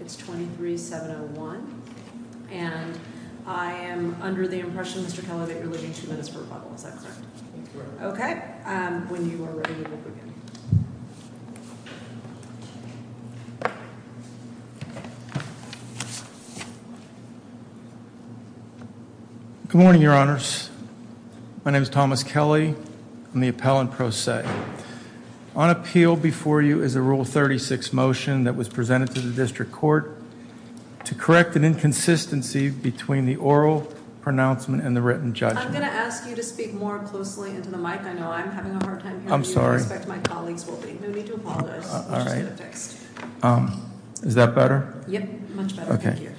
It's 23-701, and I am under the impression, Mr. Kelly, that you're leaving two minutes per bubble. Is that correct? That's correct. Okay. When you are ready, we will begin. Good morning, Your Honors. My name is Thomas Kelly. I'm the appellant pro se. On appeal before you is a Rule 36 motion that was presented to the district court to correct an inconsistency between the oral pronouncement and the written judgment. I'm going to ask you to speak more closely into the mic. I know I'm having a hard time hearing you. I'm sorry. No need to apologize. I'll just get it fixed. Is that better? Yep. Much better. Thank you.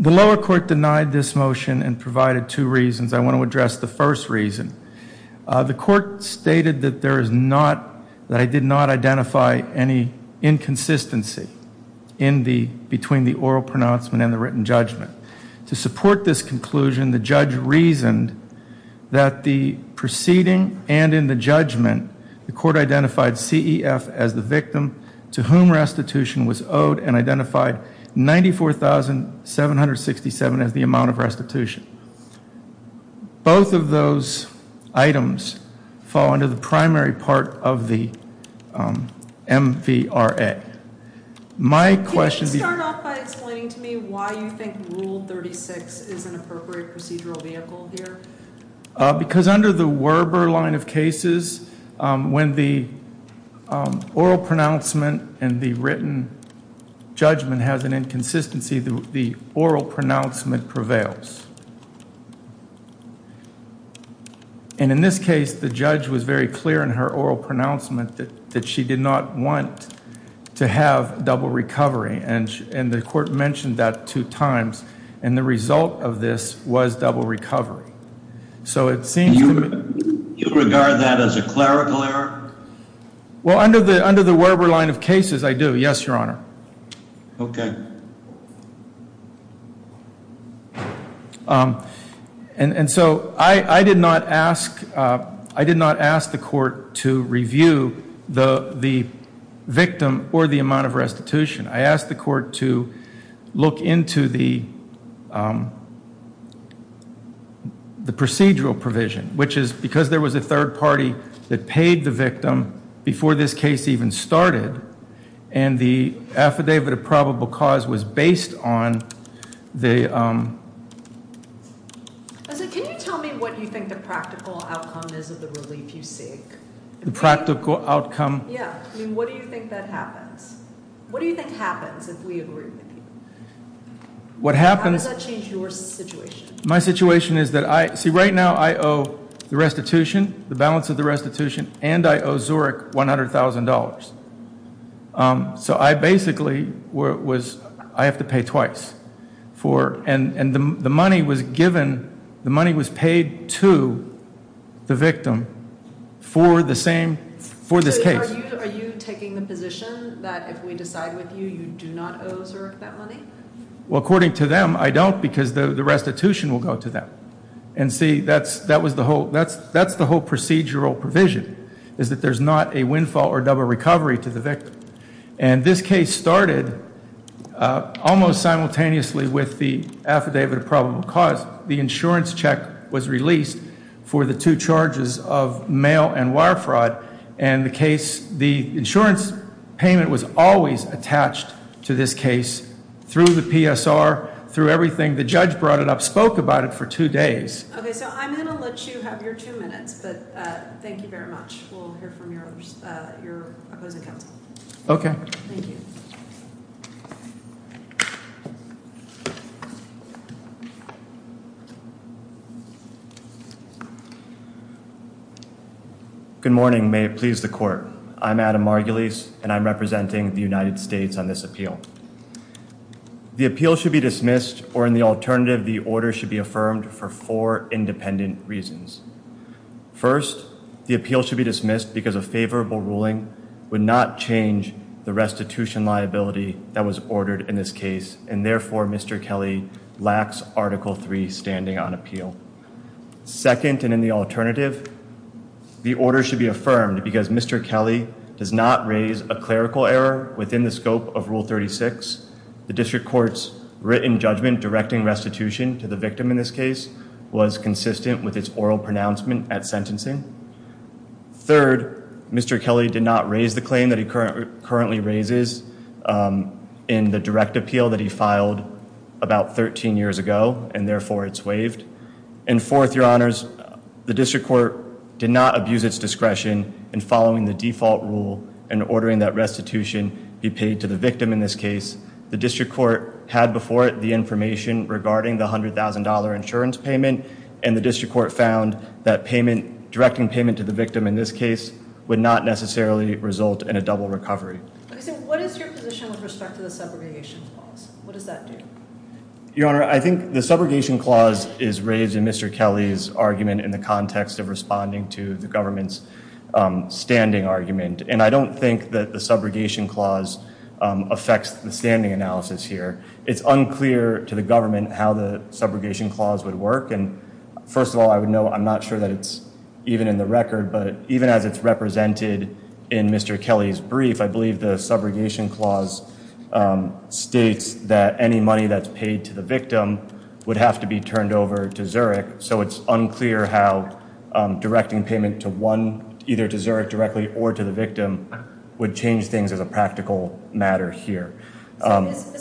The lower court denied this motion and provided two reasons. I want to address the first reason. The court stated that I did not identify any inconsistency between the oral pronouncement and the written judgment. To support this conclusion, the judge reasoned that the proceeding and in the judgment, the court identified CEF as the victim to whom restitution was owed and identified $94,767 as the amount of restitution. Both of those items fall under the primary part of the MVRA. Can you start off by explaining to me why you think Rule 36 is an appropriate procedural vehicle here? Because under the Werber line of cases, when the oral pronouncement and the written judgment has an inconsistency, the oral pronouncement prevails. In this case, the judge was very clear in her oral pronouncement that she did not want to have double recovery. The court mentioned that two times. The result of this was double recovery. Do you regard that as a clerical error? Well, under the Werber line of cases, I do. Yes, Your Honor. Okay. And so I did not ask the court to review the victim or the amount of restitution. I asked the court to look into the procedural provision, which is because there was a third party that paid the victim before this case even started. And the affidavit of probable cause was based on the... Can you tell me what you think the practical outcome is of the relief you seek? The practical outcome? Yeah. I mean, what do you think that happens? What do you think happens if we agree with you? What happens... How does that change your situation? My situation is that I... See, right now I owe the restitution, the balance of the restitution, and I owe Zurich $100,000. So I basically was... I have to pay twice for... And the money was given... The money was paid to the victim for the same... For this case. Are you taking the position that if we decide with you, you do not owe Zurich that money? Well, according to them, I don't because the restitution will go to them. And see, that's the whole procedural provision, is that there's not a windfall or double recovery to the victim. And this case started almost simultaneously with the affidavit of probable cause. The insurance check was released for the two charges of mail and wire fraud. And the insurance payment was always attached to this case through the PSR, through everything. The judge brought it up, spoke about it for two days. Okay, so I'm going to let you have your two minutes, but thank you very much. We'll hear from your opposing counsel. Okay. Thank you. Good morning. May it please the court. I'm Adam Margulies, and I'm representing the United States on this appeal. The appeal should be dismissed or, in the alternative, the order should be affirmed for four independent reasons. First, the appeal should be dismissed because a favorable ruling would not change the restitution liability that was ordered in this case. And therefore, Mr. Kelly lacks Article III standing on appeal. Second, and in the alternative, the order should be affirmed because Mr. Kelly does not raise a clerical error within the scope of Rule 36. The district court's written judgment directing restitution to the victim in this case was consistent with its oral pronouncement at sentencing. Third, Mr. Kelly did not raise the claim that he currently raises in the direct appeal that he filed about 13 years ago. And therefore, it's waived. And fourth, Your Honors, the district court did not abuse its discretion in following the default rule and ordering that restitution be paid to the victim in this case. The district court had before it the information regarding the $100,000 insurance payment, and the district court found that directing payment to the victim in this case would not necessarily result in a double recovery. What is your position with respect to the subrogation clause? What does that do? Your Honor, I think the subrogation clause is raised in Mr. Kelly's argument in the context of responding to the government's standing argument. And I don't think that the subrogation clause affects the standing analysis here. It's unclear to the government how the subrogation clause would work. And first of all, I would note I'm not sure that it's even in the record, but even as it's represented in Mr. Kelly's brief, I believe the subrogation clause states that any money that's paid to the victim would have to be turned over to Zurich. So it's unclear how directing payment to one, either to Zurich directly or to the victim, would change things as a practical matter here. Is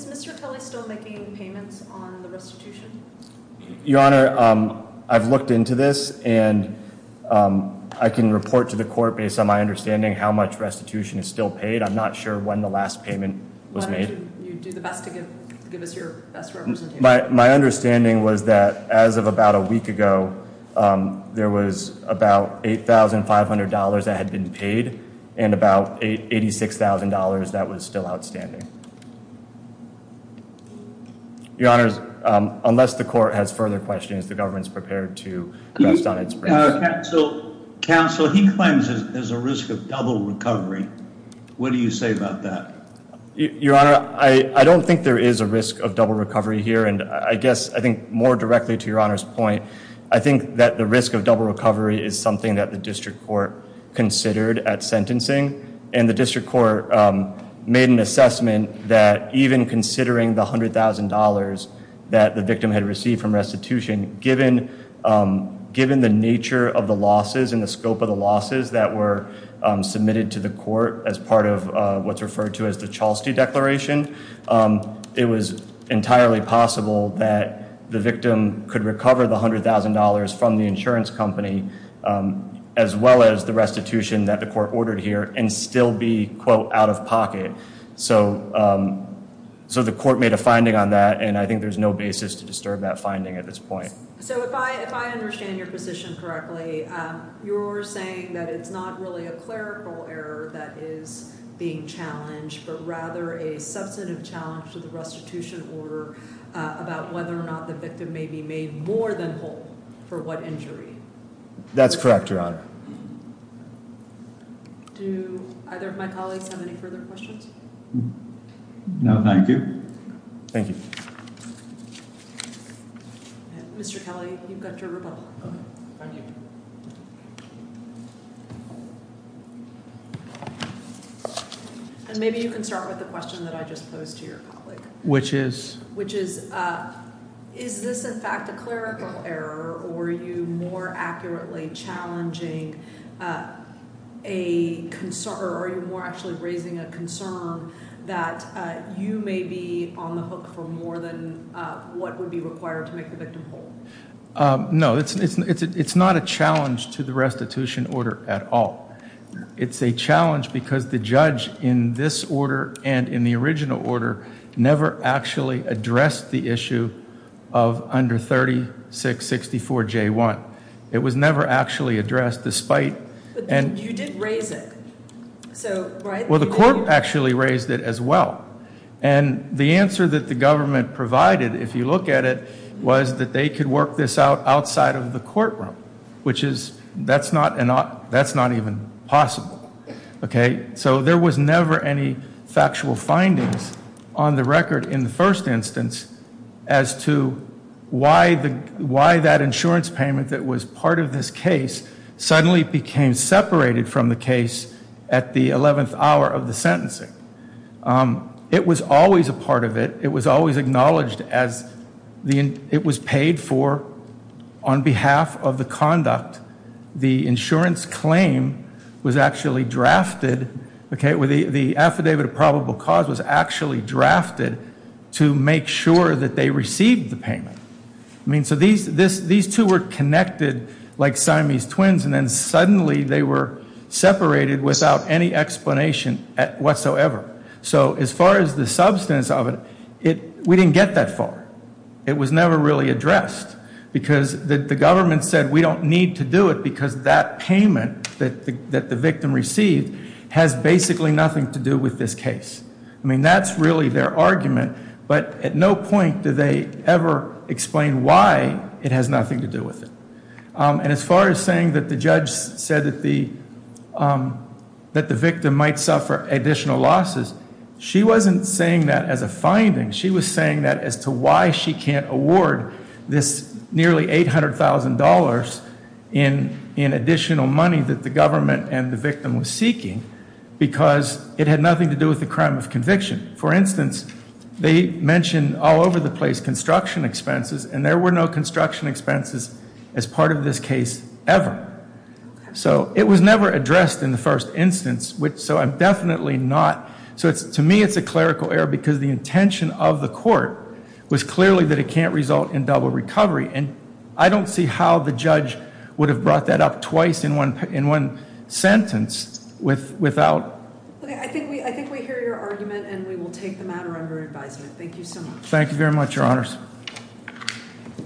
Mr. Kelly still making payments on the restitution? Your Honor, I've looked into this, and I can report to the court based on my understanding how much restitution is still paid. I'm not sure when the last payment was made. Why don't you do the best to give us your best representation? My understanding was that as of about a week ago, there was about $8,500 that had been paid and about $86,000 that was still outstanding. Your Honor, unless the court has further questions, the government's prepared to rest on its branch. Counsel, he claims there's a risk of double recovery. What do you say about that? Your Honor, I don't think there is a risk of double recovery here. And I guess I think more directly to Your Honor's point, I think that the risk of double recovery is something that the district court considered at sentencing. And the district court made an assessment that even considering the $100,000 that the victim had received from restitution, given the nature of the losses and the scope of the losses that were submitted to the court as part of what's referred to as the Chalstey Declaration, it was entirely possible that the victim could recover the $100,000 from the insurance company as well as the restitution that the court ordered here and still be, quote, out of pocket. So the court made a finding on that, and I think there's no basis to disturb that finding at this point. So if I understand your position correctly, you're saying that it's not really a clerical error that is being challenged, but rather a substantive challenge to the restitution order about whether or not the victim may be made more than whole for what injury? That's correct, Your Honor. Do either of my colleagues have any further questions? No, thank you. Thank you. Mr. Kelly, you've got your rebuttal. Thank you. And maybe you can start with the question that I just posed to your colleague. Which is? Is this, in fact, a clerical error, or are you more accurately challenging a concern? Or are you more actually raising a concern that you may be on the hook for more than what would be required to make the victim whole? No, it's not a challenge to the restitution order at all. It's a challenge because the judge in this order and in the original order never actually addressed the issue of under 3664J1. It was never actually addressed, despite. But you did raise it. Well, the court actually raised it as well. And the answer that the government provided, if you look at it, was that they could work this out outside of the courtroom. Which is, that's not even possible. Okay? So there was never any factual findings on the record in the first instance as to why that insurance payment that was part of this case suddenly became separated from the case at the 11th hour of the sentencing. It was always a part of it. It was always acknowledged as it was paid for on behalf of the conduct. The insurance claim was actually drafted, okay? The affidavit of probable cause was actually drafted to make sure that they received the payment. I mean, so these two were connected like Siamese twins, and then suddenly they were separated without any explanation whatsoever. So as far as the substance of it, we didn't get that far. It was never really addressed. Because the government said, we don't need to do it because that payment that the victim received has basically nothing to do with this case. I mean, that's really their argument. But at no point did they ever explain why it has nothing to do with it. And as far as saying that the judge said that the victim might suffer additional losses, she wasn't saying that as a finding. She was saying that as to why she can't award this nearly $800,000 in additional money that the government and the victim was seeking. Because it had nothing to do with the crime of conviction. For instance, they mentioned all over the place construction expenses, and there were no construction expenses as part of this case ever. So it was never addressed in the first instance. So I'm definitely not. So to me, it's a clerical error because the intention of the court was clearly that it can't result in double recovery. And I don't see how the judge would have brought that up twice in one sentence without. I think we hear your argument and we will take the matter under advisement. Thank you so much. Thank you very much, Your Honors.